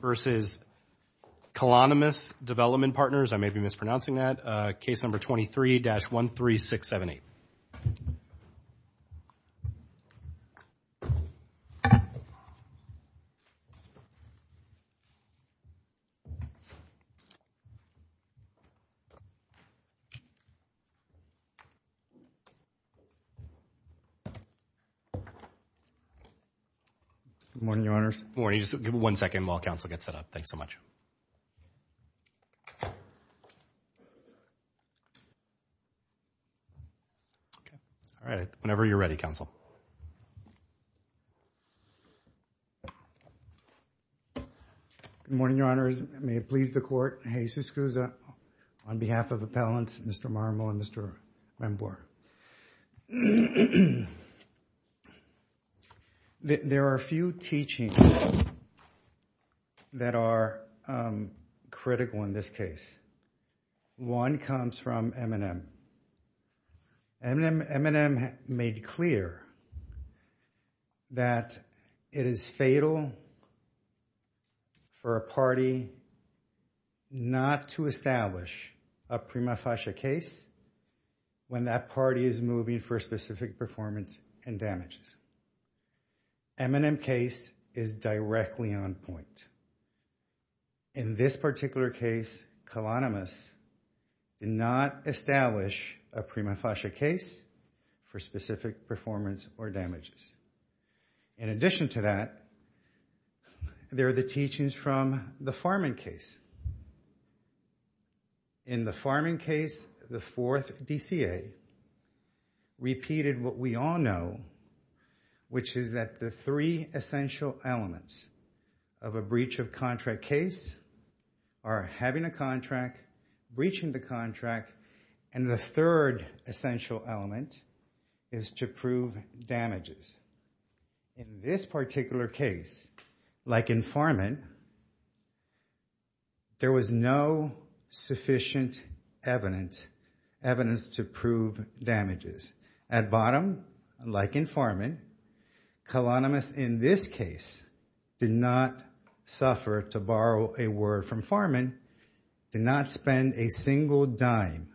versus Kalonymus Development Partners, I may be mispronouncing that, case number 23-13678. Good morning, Your Honors. Morning. Can you just give me one second while counsel gets that up? Thanks so much. Okay. All right. Whenever you're ready, counsel. Good morning, Your Honors. May it please the Court. Jesus Cruz on behalf of appellants Mr. Marmol and Mr. Lembour. There are a few teachings that are critical in this case. One comes from M&M. M&M made clear that it is fatal for a party not to establish a prima facie case when that party is moving for specific performance and damages. M&M case is directly on point. In this particular case, Kalonymus did not establish a prima facie case for specific performance or damages. In addition to that, there are the teachings from the Farman case. In the Farman case, the fourth DCA repeated what we all know, which is that the three essential elements of a breach of contract case are having a contract, breaching the contract, and the third essential element is to prove damages. In this particular case, like in Farman, there was no sufficient evidence to prove damages. At bottom, like in Farman, Kalonymus in this case did not suffer, to borrow a word from Farman, did not spend a single dime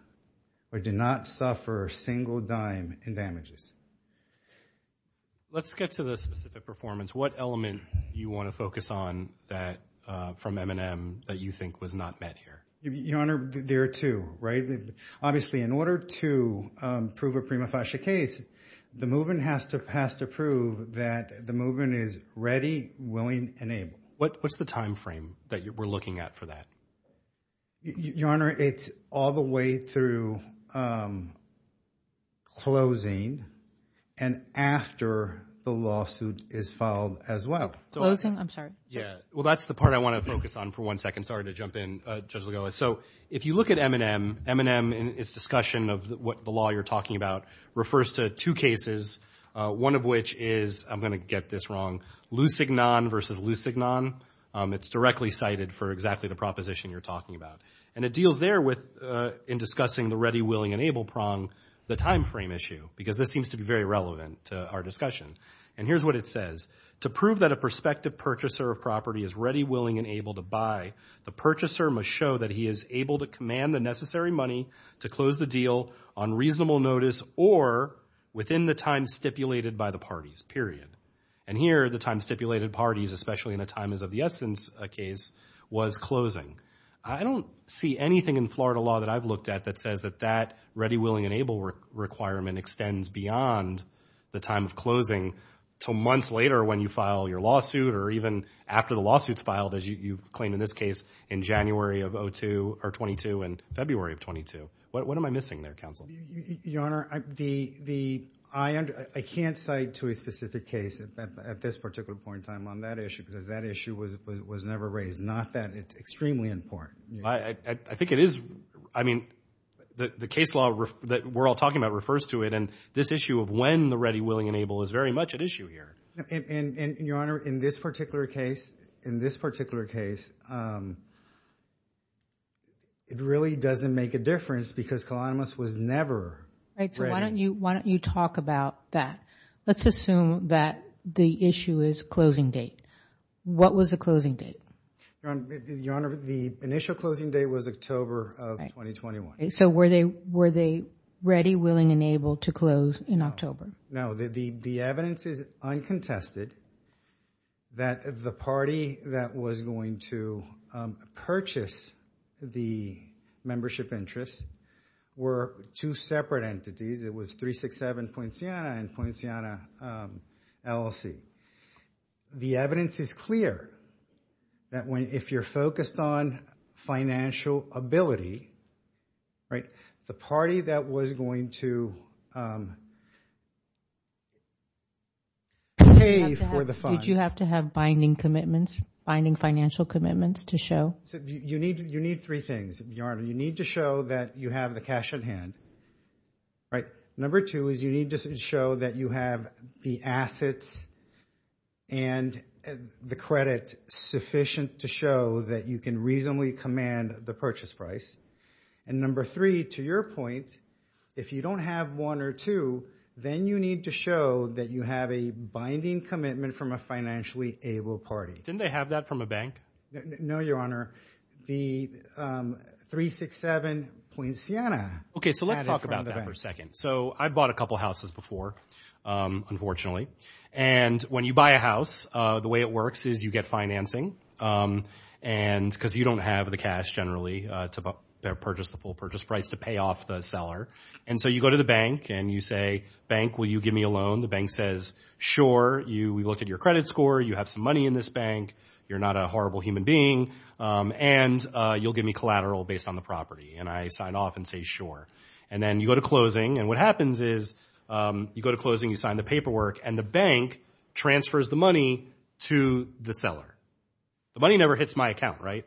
or did not suffer a single dime in damages. Let's get to the specific performance. What element do you want to focus on from M&M that you think was not met here? Your Honor, there are two, right? Obviously, in order to prove a prima facie case, the movement has to prove that the movement is ready, willing, and able. What's the timeframe that we're looking at for that? Your Honor, it's all the way through closing and after the lawsuit is filed as well. Closing? I'm sorry. Yeah. Well, that's the part I want to focus on for one second. Sorry to jump in, Judge Legolas. So if you look at M&M, M&M in its discussion of what the law you're talking about refers to two cases, one of which is – I'm going to get this wrong – and it deals there with, in discussing the ready, willing, and able prong, the timeframe issue because this seems to be very relevant to our discussion. And here's what it says. To prove that a prospective purchaser of property is ready, willing, and able to buy, the purchaser must show that he is able to command the necessary money to close the deal on reasonable notice or within the time stipulated by the parties, period. And here, the time stipulated parties, especially in a time is of the essence case, was closing. I don't see anything in Florida law that I've looked at that says that that ready, willing, and able requirement extends beyond the time of closing until months later when you file your lawsuit or even after the lawsuit is filed, as you've claimed in this case, in January of 2002 and February of 2002. What am I missing there, counsel? Your Honor, the – I can't cite to a specific case at this particular point in time on that issue because that issue was never raised. Not that it's extremely important. I think it is – I mean, the case law that we're all talking about refers to it, and this issue of when the ready, willing, and able is very much at issue here. And, Your Honor, in this particular case, in this particular case, it really doesn't make a difference because Colonymous was never ready. So why don't you talk about that? Let's assume that the issue is closing date. What was the closing date? Your Honor, the initial closing date was October of 2021. So were they ready, willing, and able to close in October? No, the evidence is uncontested that the party that was going to purchase the membership interest were two separate entities. It was 367-Puenciana and Puenciana LLC. The evidence is clear that when – if you're focused on financial ability, right, the party that was going to pay for the funds – Did you have to have binding commitments, binding financial commitments to show? You need three things, Your Honor. You need to show that you have the cash at hand, right? Number two is you need to show that you have the assets and the credit sufficient to show that you can reasonably command the purchase price. And number three, to your point, if you don't have one or two, then you need to show that you have a binding commitment from a financially able party. Didn't they have that from a bank? No, Your Honor. The 367-Puenciana had it from the bank. So I've bought a couple houses before, unfortunately. And when you buy a house, the way it works is you get financing because you don't have the cash generally to purchase the full purchase price to pay off the seller. And so you go to the bank and you say, bank, will you give me a loan? The bank says, sure. We looked at your credit score. You have some money in this bank. You're not a horrible human being. And you'll give me collateral based on the property. And I sign off and say, sure. And then you go to closing. And what happens is you go to closing, you sign the paperwork, and the bank transfers the money to the seller. The money never hits my account, right?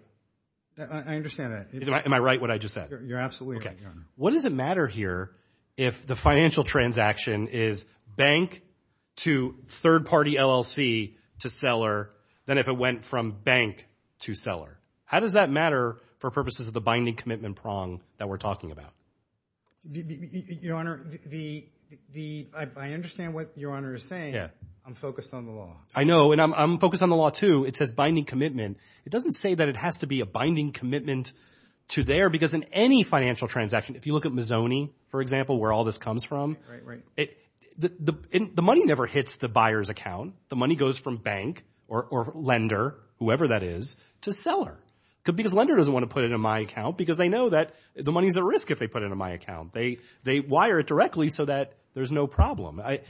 I understand that. Am I right what I just said? You're absolutely right, Your Honor. What does it matter here if the financial transaction is bank to third-party LLC to seller than if it went from bank to seller? How does that matter for purposes of the binding commitment prong that we're talking about? Your Honor, I understand what Your Honor is saying. I'm focused on the law. I know, and I'm focused on the law, too. It says binding commitment. It doesn't say that it has to be a binding commitment to there because in any financial transaction, if you look at Mazzoni, for example, where all this comes from, the money never hits the buyer's account. The money goes from bank or lender, whoever that is, to seller because lender doesn't want to put it in my account because they know that the money is at risk if they put it in my account. They wire it directly so that there's no problem. I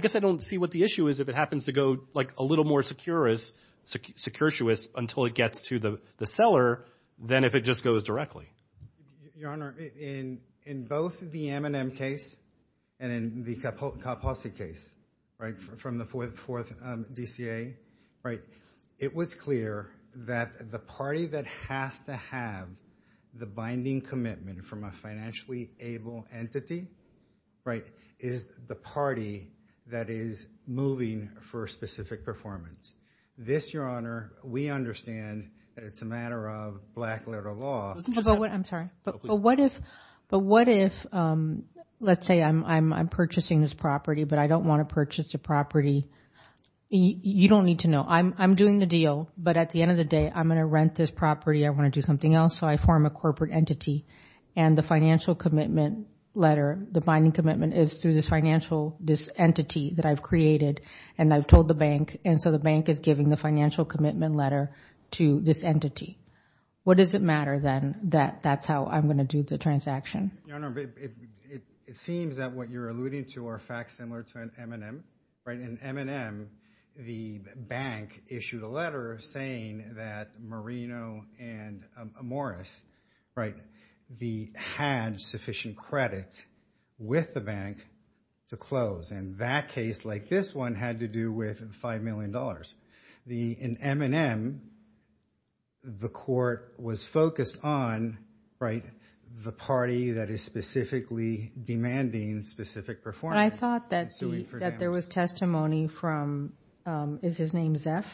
guess I don't see what the issue is if it happens to go like a little more securitous until it gets to the seller than if it just goes directly. Your Honor, in both the M&M case and in the Kaposi case from the fourth DCA, it was clear that the party that has to have the binding commitment from a financially able entity is the party that is moving for a specific performance. This, Your Honor, we understand that it's a matter of black-letter law. I'm sorry, but what if let's say I'm purchasing this property, but I don't want to purchase the property. You don't need to know. I'm doing the deal, but at the end of the day, I'm going to rent this property. I want to do something else, so I form a corporate entity, and the financial commitment letter, the binding commitment is through this financial entity that I've created, and I've told the bank, and so the bank is giving the financial commitment letter to this entity. What does it matter, then, that that's how I'm going to do the transaction? Your Honor, it seems that what you're alluding to are facts similar to an M&M. In M&M, the bank issued a letter saying that Marino and Morris had sufficient credit with the bank to close, and that case, like this one, had to do with $5 million. In M&M, the court was focused on the party that is specifically demanding specific performance. I thought that there was testimony from, is his name Zef?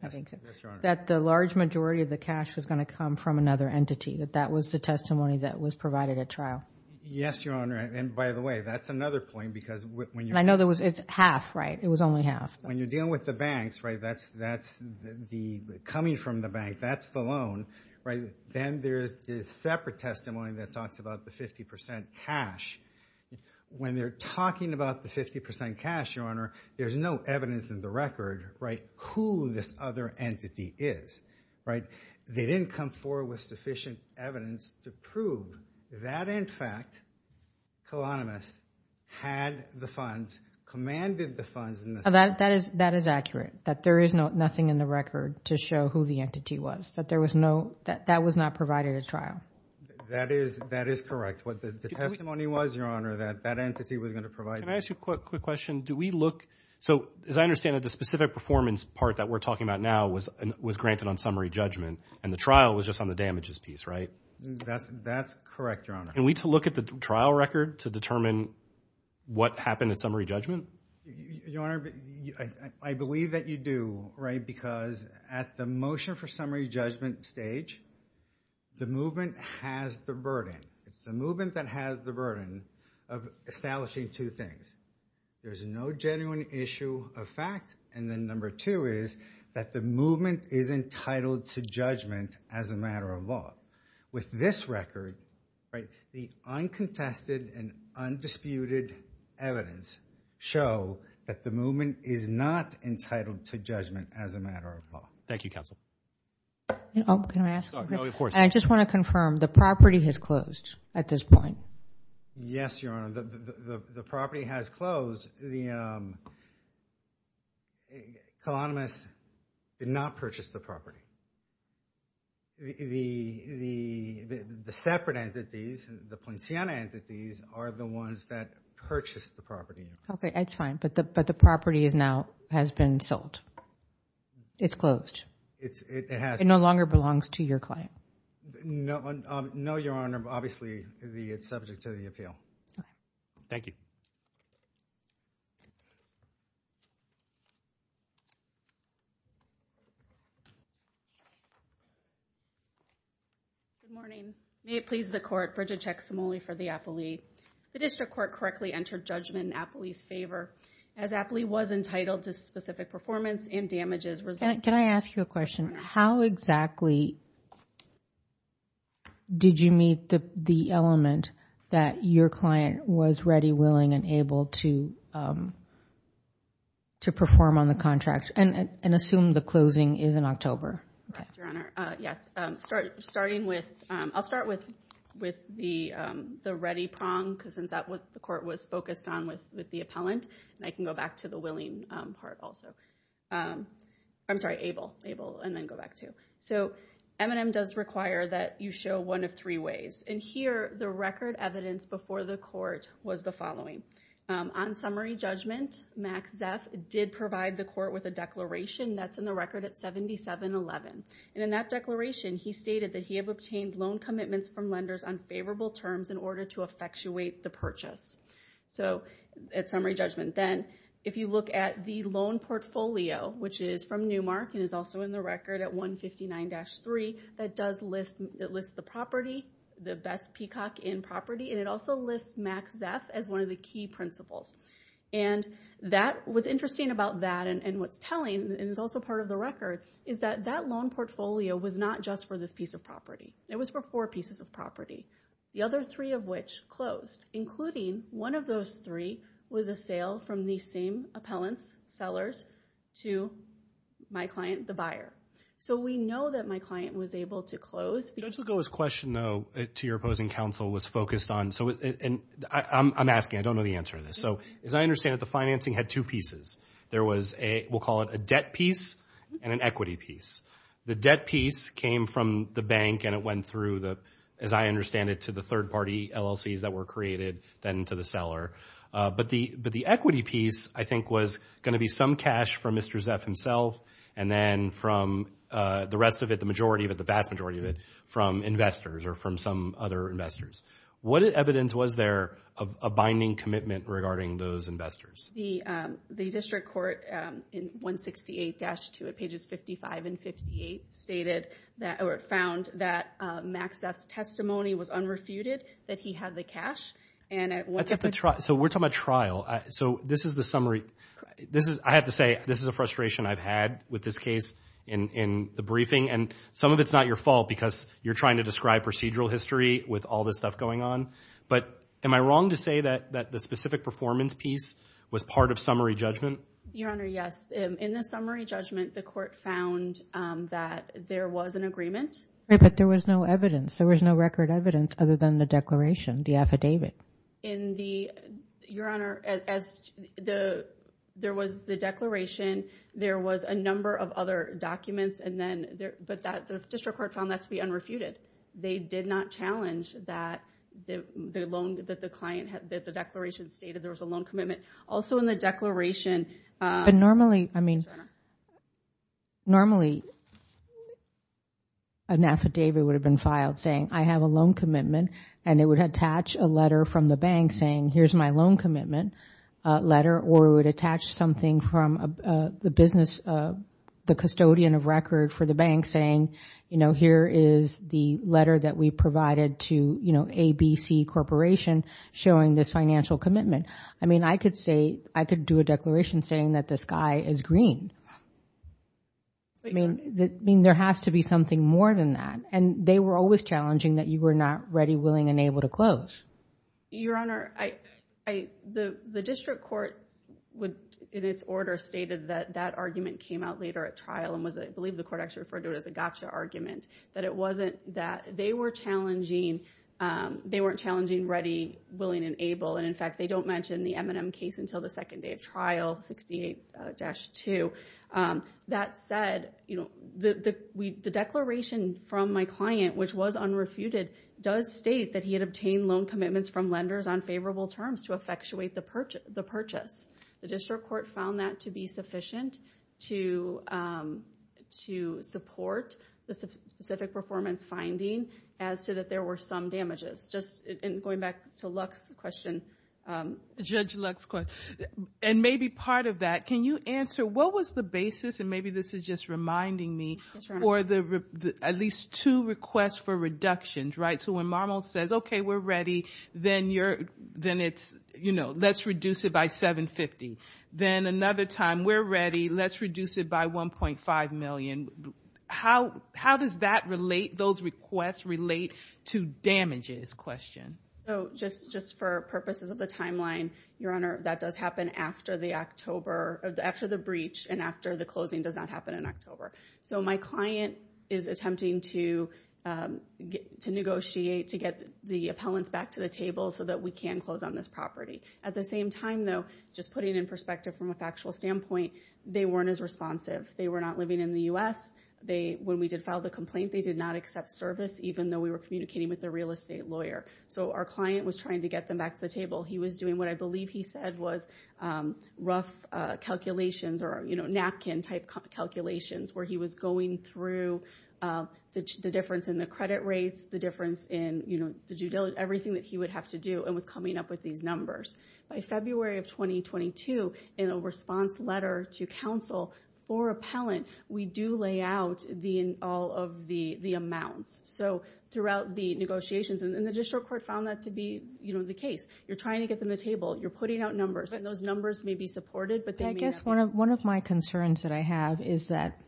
I think so. Yes, Your Honor. That the large majority of the cash was going to come from another entity, that that was the testimony that was provided at trial. Yes, Your Honor, and by the way, that's another point, because when you're I know there was, it's half, right? It was only half. When you're dealing with the banks, right, that's the coming from the bank, that's the loan, right? Then there's this separate testimony that talks about the 50% cash. When they're talking about the 50% cash, Your Honor, there's no evidence in the record, right, who this other entity is, right? They didn't come forward with sufficient evidence to prove that, in fact, Colonymous had the funds, commanded the funds. That is accurate, that there is nothing in the record to show who the entity was, that there was no, that that was not provided at trial. That is correct. The testimony was, Your Honor, that that entity was going to provide. Can I ask you a quick question? Do we look, so as I understand it, the specific performance part that we're talking about now was granted on summary judgment, and the trial was just on the damages piece, right? That's correct, Your Honor. Can we look at the trial record to determine what happened at summary judgment? Your Honor, I believe that you do, right, because at the motion for summary judgment stage, the movement has the burden. It's the movement that has the burden of establishing two things. There's no genuine issue of fact, and then number two is that the movement is entitled to judgment as a matter of law. With this record, right, the uncontested and undisputed evidence show that the movement is not entitled to judgment as a matter of law. Thank you, Counsel. Can I ask a question? No, of course. I just want to confirm, the property has closed at this point? Yes, Your Honor, the property has closed. The Colonymous did not purchase the property. The separate entities, the Poinciana entities, are the ones that purchased the property. Okay, that's fine, but the property now has been sold. It's closed. It has been. It no longer belongs to your client. No, Your Honor, obviously it's subject to the appeal. Thank you. Good morning. May it please the Court, Bridget Chexamole for the appellee. The District Court correctly entered judgment in the appellee's favor. As the appellee was entitled to specific performance and damages resulting from the property purchase. Can I ask you a question? How exactly did you meet the element that your client was ready, willing, and able to perform on the contract? Assume the closing is in October. Yes, Your Honor. I'll start with the ready prong, because that's what the court was focused on with the appellant. I can go back to the willing part also. I'm sorry, able, able, and then go back to. So, M&M does require that you show one of three ways. And here, the record evidence before the court was the following. On summary judgment, Max Zeff did provide the court with a declaration that's in the record at 7711. And in that declaration, he stated that he had obtained loan commitments from lenders on favorable terms in order to effectuate the purchase. So, at summary judgment. Then, if you look at the loan portfolio, which is from Newmark and is also in the record at 159-3, that lists the property, the best peacock in property, and it also lists Max Zeff as one of the key principals. And what's interesting about that and what's telling, and is also part of the record, is that that loan portfolio was not just for this piece of property. It was for four pieces of property, the other three of which closed, including one of those three was a sale from the same appellants, sellers, to my client, the buyer. So, we know that my client was able to close. Judge Legault's question, though, to your opposing counsel was focused on, so, and I'm asking. I don't know the answer to this. So, as I understand it, the financing had two pieces. There was a, we'll call it a debt piece and an equity piece. The debt piece came from the bank and it went through the, as I understand it, to the third-party LLCs that were created, then to the seller. But the equity piece, I think, was going to be some cash from Mr. Zeff himself and then from the rest of it, the majority of it, the vast majority of it, from investors or from some other investors. What evidence was there of a binding commitment regarding those investors? The district court in 168-2 at pages 55 and 58 stated that, or found that Max Zeff's testimony was unrefuted, that he had the cash. So, we're talking about trial. So, this is the summary. I have to say, this is a frustration I've had with this case in the briefing, and some of it's not your fault because you're trying to describe procedural history with all this stuff going on. But am I wrong to say that the specific performance piece was part of summary judgment? Your Honor, yes. In the summary judgment, the court found that there was an agreement. But there was no evidence. There was no record evidence other than the declaration, the affidavit. Your Honor, there was the declaration, there was a number of other documents, but the district court found that to be unrefuted. They did not challenge that the loan that the client had, that the declaration stated there was a loan commitment. Also in the declaration. But normally, I mean, normally an affidavit would have been filed saying, I have a loan commitment, and it would attach a letter from the bank saying, here's my loan commitment letter, or it would attach something from the business, the custodian of record for the bank saying, here is the letter that we provided to ABC Corporation showing this financial commitment. I mean, I could say, I could do a declaration saying that the sky is green. I mean, there has to be something more than that. And they were always challenging that you were not ready, willing, and able to close. Your Honor, the district court, in its order, stated that that argument came out later at trial, and I believe the court actually referred to it as a gotcha argument, that it wasn't that. They weren't challenging ready, willing, and able. And in fact, they don't mention the M&M case until the second day of trial, 68-2. That said, the declaration from my client, which was unrefuted, does state that he had obtained loan commitments from lenders on favorable terms to effectuate the purchase. The district court found that to be sufficient to support the specific performance finding as to that there were some damages. Just going back to Lux's question. Judge Lux's question, and maybe part of that, can you answer, what was the basis, and maybe this is just reminding me, at least two requests for reductions, right? So when Marmo says, okay, we're ready, then let's reduce it by $750,000. Then another time, we're ready, let's reduce it by $1.5 million. How does that relate, those requests relate to damages question? Just for purposes of the timeline, Your Honor, that does happen after the October, after the breach and after the closing does not happen in October. So my client is attempting to negotiate to get the appellants back to the table so that we can close on this property. At the same time, though, just putting it in perspective from a factual standpoint, they weren't as responsive. They were not living in the U.S. When we did file the complaint, they did not accept service, even though we were communicating with their real estate lawyer. So our client was trying to get them back to the table. He was doing what I believe he said was rough calculations or, you know, where he was going through the difference in the credit rates, the difference in, you know, the due diligence, everything that he would have to do and was coming up with these numbers. By February of 2022, in a response letter to counsel for appellant, we do lay out all of the amounts. So throughout the negotiations, and the district court found that to be, you know, the case. You're trying to get them to the table. You're putting out numbers, and those numbers may be supported, but they may not be. Yes, one of my concerns that I have is that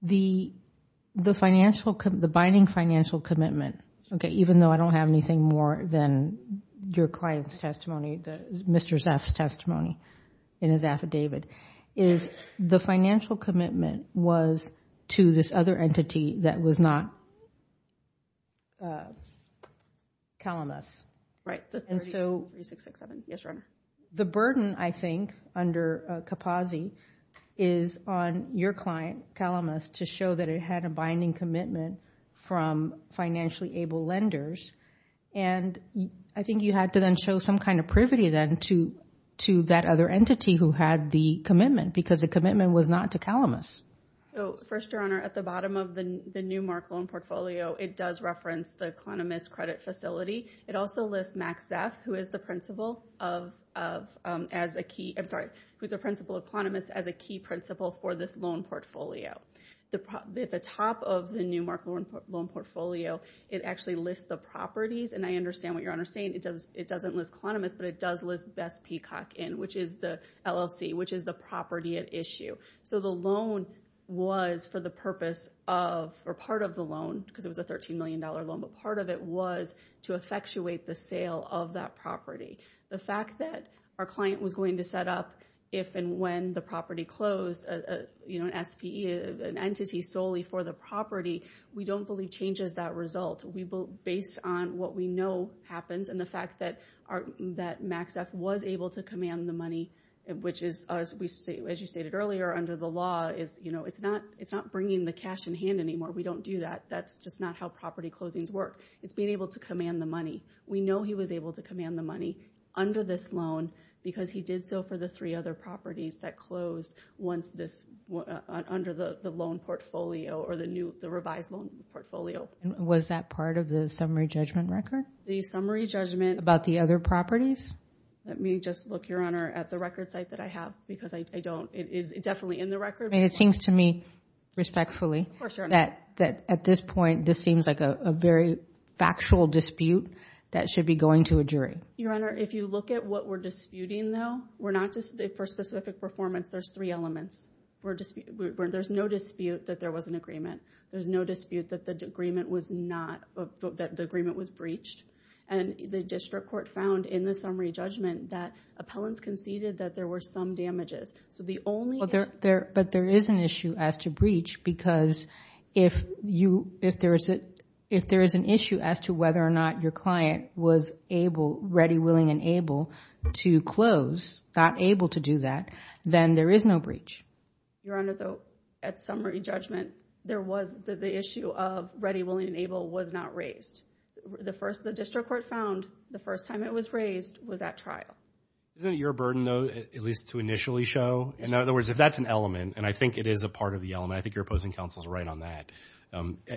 the binding financial commitment, okay, even though I don't have anything more than your client's testimony, Mr. Zeff's testimony in his affidavit, is the financial commitment was to this other entity that was not Calimus. Right. 3667. Yes, Your Honor. The burden, I think, under Capozzi is on your client, Calimus, to show that it had a binding commitment from financially able lenders, and I think you had to then show some kind of privity then to that other entity who had the commitment because the commitment was not to Calimus. So, first, Your Honor, at the bottom of the new Marklund portfolio, it does reference the Calimus credit facility. It also lists Max Zeff, who is the principal of Calimus, as a key principal for this loan portfolio. At the top of the new Marklund loan portfolio, it actually lists the properties, and I understand what Your Honor is saying. It doesn't list Calimus, but it does list Best Peacock Inn, which is the LLC, which is the property at issue. So the loan was for the purpose of, or part of the loan, because it was a $13 million loan, but part of it was to effectuate the sale of that property. The fact that our client was going to set up, if and when the property closed, an entity solely for the property, we don't believe changes that result. Based on what we know happens and the fact that Max Zeff was able to command the money, which is, as you stated earlier, under the law, it's not bringing the cash in hand anymore. We don't do that. That's just not how property closings work. It's being able to command the money. We know he was able to command the money under this loan because he did so for the three other properties that closed under the loan portfolio or the revised loan portfolio. Was that part of the summary judgment record? The summary judgment. About the other properties? Let me just look, Your Honor, at the record site that I have, because it is definitely in the record. It seems to me, respectfully, that at this point, this seems like a very factual dispute that should be going to a jury. Your Honor, if you look at what we're disputing, though, we're not disputing for specific performance. There's three elements. There's no dispute that there was an agreement. There's no dispute that the agreement was breached. And the district court found in the summary judgment that appellants conceded that there were some damages. But there is an issue as to breach because if there is an issue as to whether or not your client was ready, willing, and able to close, not able to do that, then there is no breach. Your Honor, at summary judgment, the issue of ready, willing, and able was not raised. The district court found the first time it was raised was at trial. Isn't it your burden, though, at least to initially show? In other words, if that's an element, and I think it is a part of the element, I think your opposing counsel is right on that.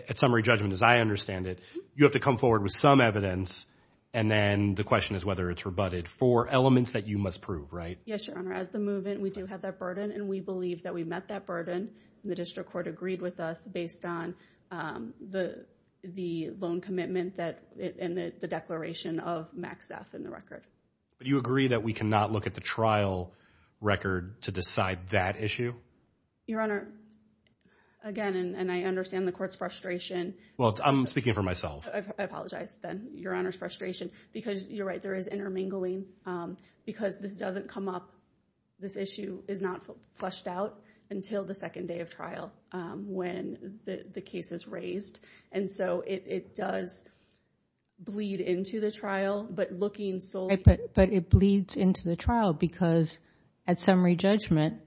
At summary judgment, as I understand it, you have to come forward with some evidence, and then the question is whether it's rebutted for elements that you must prove, right? Yes, Your Honor. As the move-in, we do have that burden, and we believe that we met that burden. The district court agreed with us based on the loan commitment and the declaration of Max F in the record. Do you agree that we cannot look at the trial record to decide that issue? Your Honor, again, and I understand the court's frustration. Well, I'm speaking for myself. I apologize, then, Your Honor's frustration, because you're right, there is intermingling. Because this doesn't come up, this issue is not flushed out until the second day of trial when the case is raised. And so it does bleed into the trial, but looking solely at the case, but it bleeds into the trial because at summary judgment,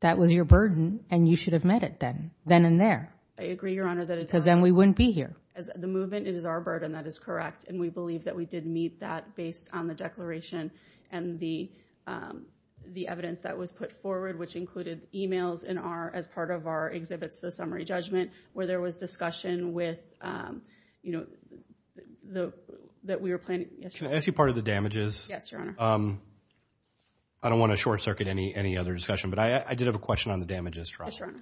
that was your burden, and you should have met it then, then and there. I agree, Your Honor, that it's our burden. Because then we wouldn't be here. As the move-in, it is our burden, that is correct, and we believe that we did meet that based on the declaration and the evidence that was put forward, which included emails as part of our exhibits to summary judgment where there was discussion that we were planning. Can I ask you part of the damages? I don't want to short-circuit any other discussion, but I did have a question on the damages trial. Yes, Your Honor.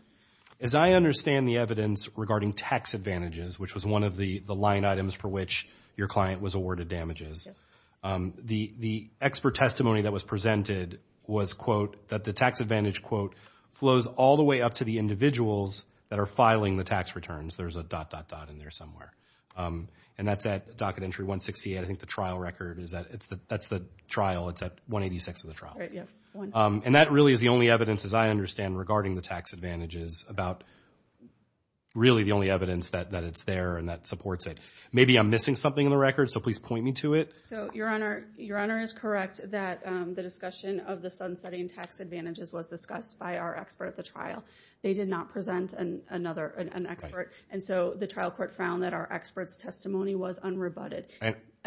As I understand the evidence regarding tax advantages, which was one of the line items for which your client was awarded damages, the expert testimony that was presented was, quote, that the tax advantage, quote, flows all the way up to the individuals that are filing the tax returns. There's a dot, dot, dot in there somewhere. And that's at docket entry 168. I think the trial record is that. That's the trial. It's at 186 of the trial. And that really is the only evidence, as I understand, regarding the tax advantages, about really the only evidence that it's there and that supports it. Maybe I'm missing something in the record, so please point me to it. So, Your Honor, Your Honor is correct that the discussion of the sunsetting tax advantages was discussed by our expert at the trial. They did not present another, an expert. And so the trial court found that our expert's testimony was unrebutted.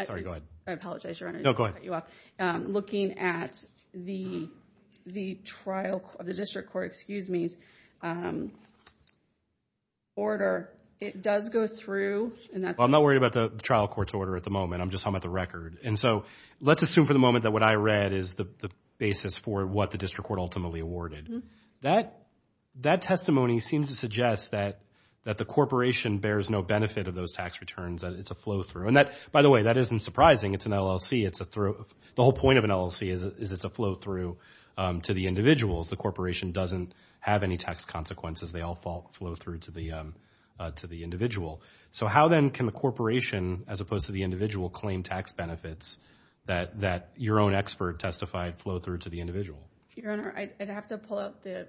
Sorry, go ahead. I apologize, Your Honor. No, go ahead. Looking at the trial of the district court's order, it does go through. I'm not worried about the trial court's order at the moment. I'm just talking about the record. And so let's assume for the moment that what I read is the basis for what the district court ultimately awarded. That testimony seems to suggest that the corporation bears no benefit of those tax returns. It's a flow through. By the way, that isn't surprising. It's an LLC. The whole point of an LLC is it's a flow through to the individuals. The corporation doesn't have any tax consequences. They all flow through to the individual. So how then can the corporation, as opposed to the individual, claim tax benefits that your own expert testified flow through to the individual? Your Honor, I'd have to pull out the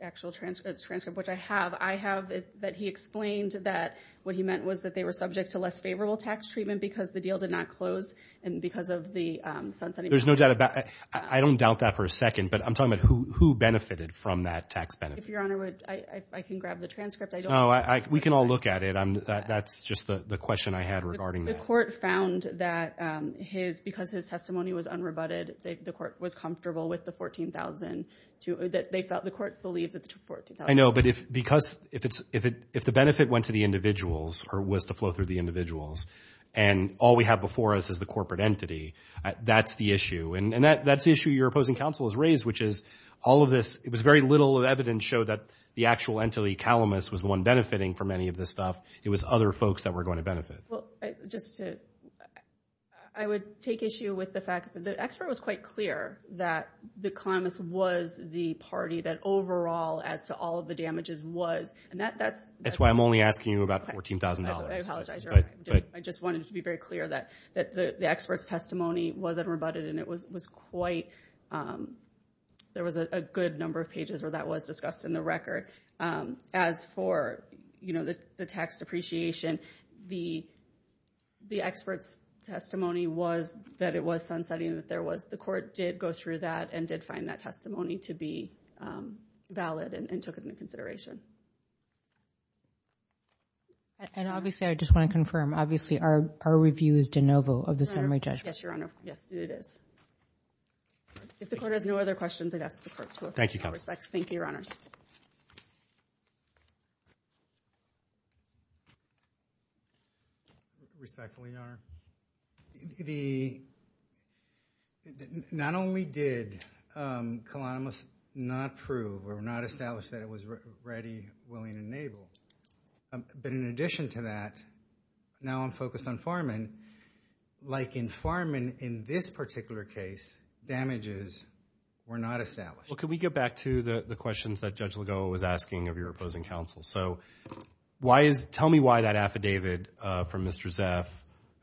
actual transcript, which I have. I have that he explained that what he meant was that they were subject to less favorable tax treatment because the deal did not close and because of the sunsetting. There's no doubt about it. I don't doubt that for a second, but I'm talking about who benefited from that tax benefit. Your Honor, I can grab the transcript. We can all look at it. That's just the question I had regarding that. The court found that because his testimony was unrebutted, the court was comfortable with the $14,000. The court believed that the $14,000. I know, but if the benefit went to the individuals or was to flow through the individuals and all we have before us is the corporate entity, that's the issue. And that's the issue your opposing counsel has raised, which is all of this. It was very little evidence showed that the actual entity, Calamus, was the one benefiting from any of this stuff. It was other folks that were going to benefit. I would take issue with the fact that the expert was quite clear that Calamus was the party that overall, as to all of the damages, was. That's why I'm only asking you about $14,000. I apologize, your Honor. I just wanted to be very clear that the expert's testimony was unrebutted and there was a good number of pages where that was discussed in the record. As for the tax depreciation, the expert's testimony was that it was sunsetting, that the court did go through that and did find that testimony to be valid and took it into consideration. And obviously, I just want to confirm, obviously our review is de novo of the summary judgment. Yes, your Honor. Yes, it is. If the court has no other questions, I'd ask the court to refer to your respects. Thank you, your Honors. Respectfully, your Honor. Not only did Calamus not prove or not establish that it was ready, willing, and able, but in addition to that, now I'm focused on Farman. Like in Farman, in this particular case, damages were not established. Well, can we get back to the questions that Judge Lagoa was asking of your opposing counsel? Tell me why that affidavit from Mr. Zeff,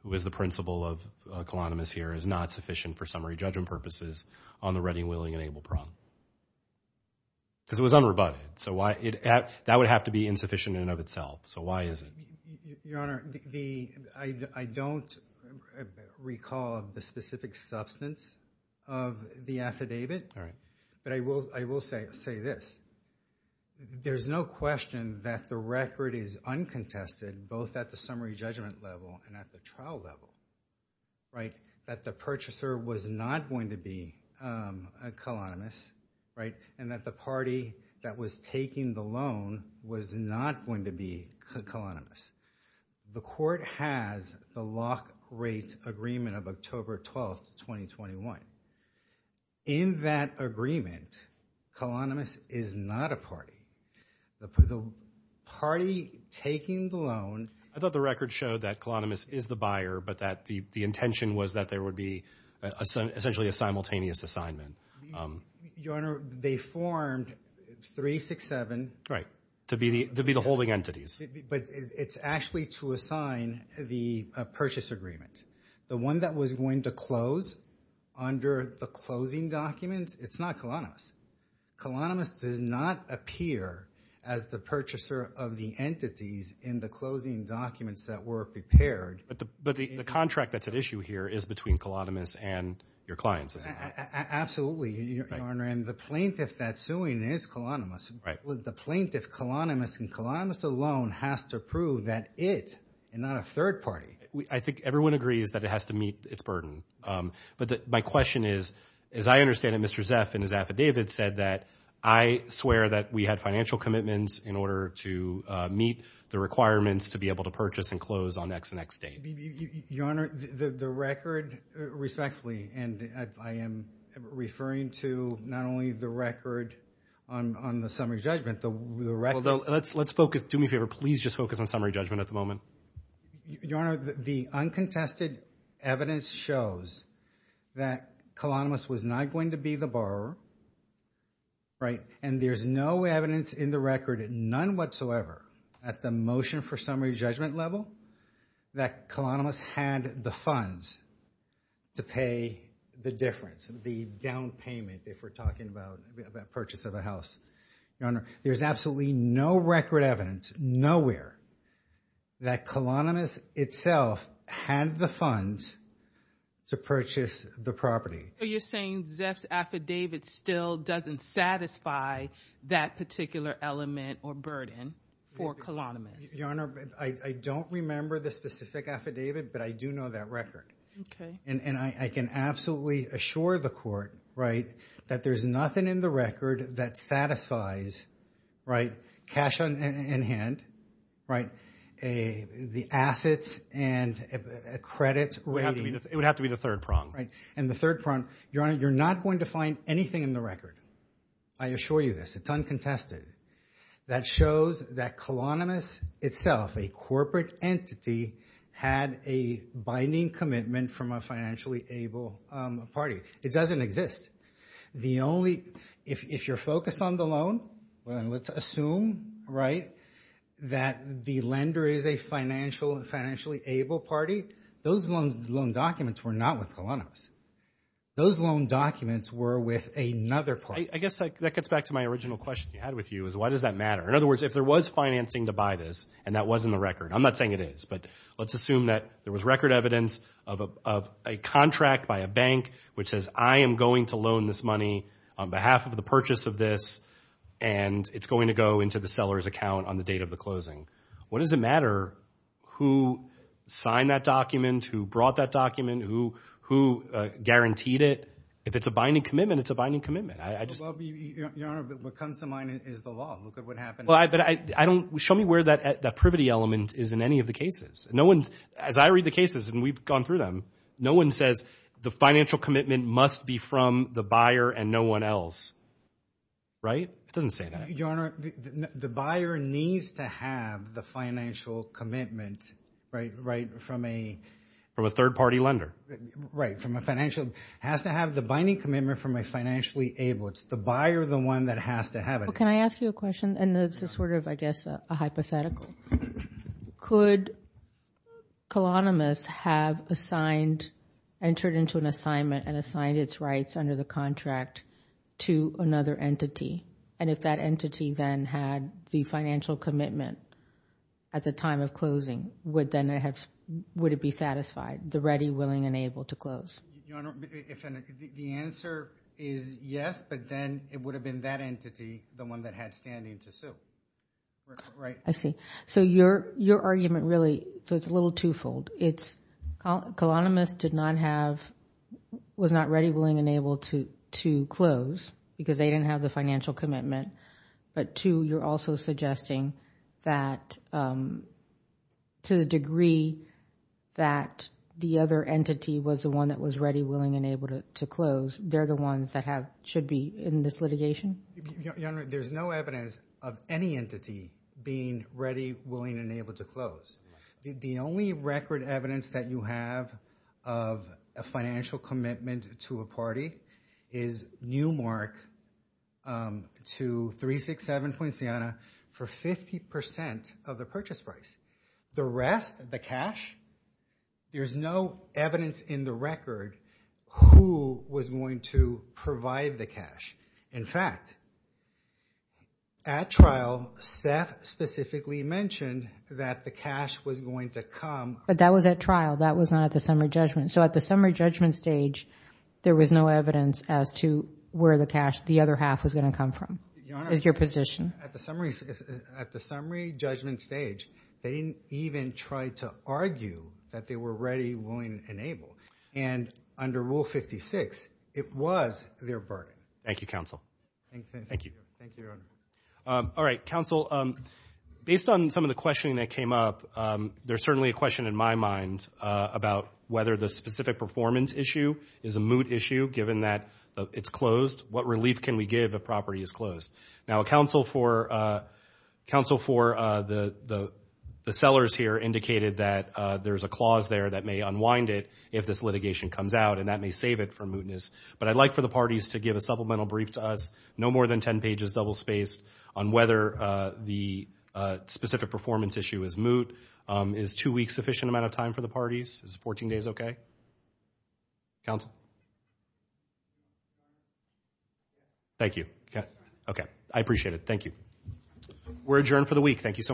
who is the principal of Calamus here, is not sufficient for summary judgment purposes on the ready, willing, and able problem? Because it was unrebutted. That would have to be insufficient in and of itself. So why is it? Your Honor, I don't recall the specific substance of the affidavit, but I will say this. There's no question that the record is uncontested, both at the summary judgment level and at the trial level, that the purchaser was not going to be Calamus, and that the party that was taking the loan was not going to be Calamus. The court has the lock-rate agreement of October 12, 2021. In that agreement, Calamus is not a party. The party taking the loan— I thought the record showed that Calamus is the buyer, but that the intention was that there would be essentially a simultaneous assignment. Your Honor, they formed 367— Right, to be the holding entities. But it's actually to assign the purchase agreement. The one that was going to close under the closing documents, it's not Calamus. Calamus does not appear as the purchaser of the entities in the closing documents that were prepared. But the contract that's at issue here is between Calamus and your clients, is it not? Absolutely, Your Honor. And the plaintiff that's suing is Calamus. The plaintiff, Calamus, and Calamus alone has to prove that it, and not a third party— I think everyone agrees that it has to meet its burden. But my question is, as I understand it, Mr. Zeff in his affidavit said that, I swear that we had financial commitments in order to meet the requirements to be able to purchase and close on X and X date. Your Honor, the record respectfully, and I am referring to not only the record on the summary judgment, the record— Let's focus. Do me a favor. Please just focus on summary judgment at the moment. Your Honor, the uncontested evidence shows that Calamus was not going to be the borrower, right? And there's no evidence in the record, none whatsoever, at the motion for summary judgment level, that Calamus had the funds to pay the difference, the down payment if we're talking about the purchase of a house. Your Honor, there's absolutely no record evidence, nowhere, that Calamus itself had the funds to purchase the property. So you're saying Zeff's affidavit still doesn't satisfy that particular element or burden for Calamus? Your Honor, I don't remember the specific affidavit, but I do know that record. Okay. And I can absolutely assure the court, right, that there's nothing in the record that satisfies, right, cash in hand, right, the assets and credit rating. It would have to be the third prong. And the third prong. Your Honor, you're not going to find anything in the record. I assure you this. It's uncontested. That shows that Calamus itself, a corporate entity, had a binding commitment from a financially able party. It doesn't exist. If you're focused on the loan, let's assume, right, that the lender is a financially able party. Those loan documents were not with Calamus. Those loan documents were with another party. I guess that gets back to my original question I had with you, is why does that matter? In other words, if there was financing to buy this, and that was in the record. I'm not saying it is, but let's assume that there was record evidence of a contract by a bank which says I am going to loan this money on behalf of the purchase of this, and it's going to go into the seller's account on the date of the closing. What does it matter who signed that document, who brought that document, who guaranteed it? If it's a binding commitment, it's a binding commitment. Your Honor, what comes to mind is the law. Look at what happened. Show me where that privity element is in any of the cases. As I read the cases, and we've gone through them, no one says the financial commitment must be from the buyer and no one else. Right? It doesn't say that. Your Honor, the buyer needs to have the financial commitment, right, from a third-party lender. Right, from a financial. It has to have the binding commitment from a financially able. It's the buyer, the one that has to have it. Well, can I ask you a question? And this is sort of, I guess, a hypothetical. Could colonialismists have entered into an assignment and assigned its rights under the contract to another entity? And if that entity then had the financial commitment at the time of closing, would it be satisfied, the ready, willing, and able to close? Your Honor, the answer is yes, but then it would have been that entity, the one that had standing to sue. Right. I see. So your argument really, so it's a little two-fold. It's colonialismists did not have, was not ready, willing, and able to close because they didn't have the financial commitment. But two, you're also suggesting that to the degree that the other entity was the one that was ready, willing, and able to close, they're the ones that should be in this litigation? Your Honor, there's no evidence of any entity being ready, willing, and able to close. The only record evidence that you have of a financial commitment to a party is Newmark to 367 Poinciana for 50% of the purchase price. The rest, the cash, there's no evidence in the record who was going to provide the cash. In fact, at trial, Seth specifically mentioned that the cash was going to come. But that was at trial. That was not at the summary judgment. So at the summary judgment stage, there was no evidence as to where the cash, the other half, was going to come from. Your Honor, at the summary judgment stage, they didn't even try to argue that they were ready, willing, and able. And under Rule 56, it was their burden. Thank you, Counsel. Thank you. Thank you, Your Honor. All right, Counsel, based on some of the questioning that came up, there's certainly a question in my mind about whether the specific performance issue is a moot issue given that it's closed. What relief can we give if a property is closed? Now, Counsel for the sellers here indicated that there's a clause there that may unwind it if this litigation comes out, and that may save it from mootness. But I'd like for the parties to give a supplemental brief to us, no more than ten pages double-spaced, on whether the specific performance issue is moot. Is two weeks sufficient amount of time for the parties? Is 14 days okay? Counsel? Thank you. Okay. I appreciate it. Thank you. We're adjourned for the week. Thank you so much.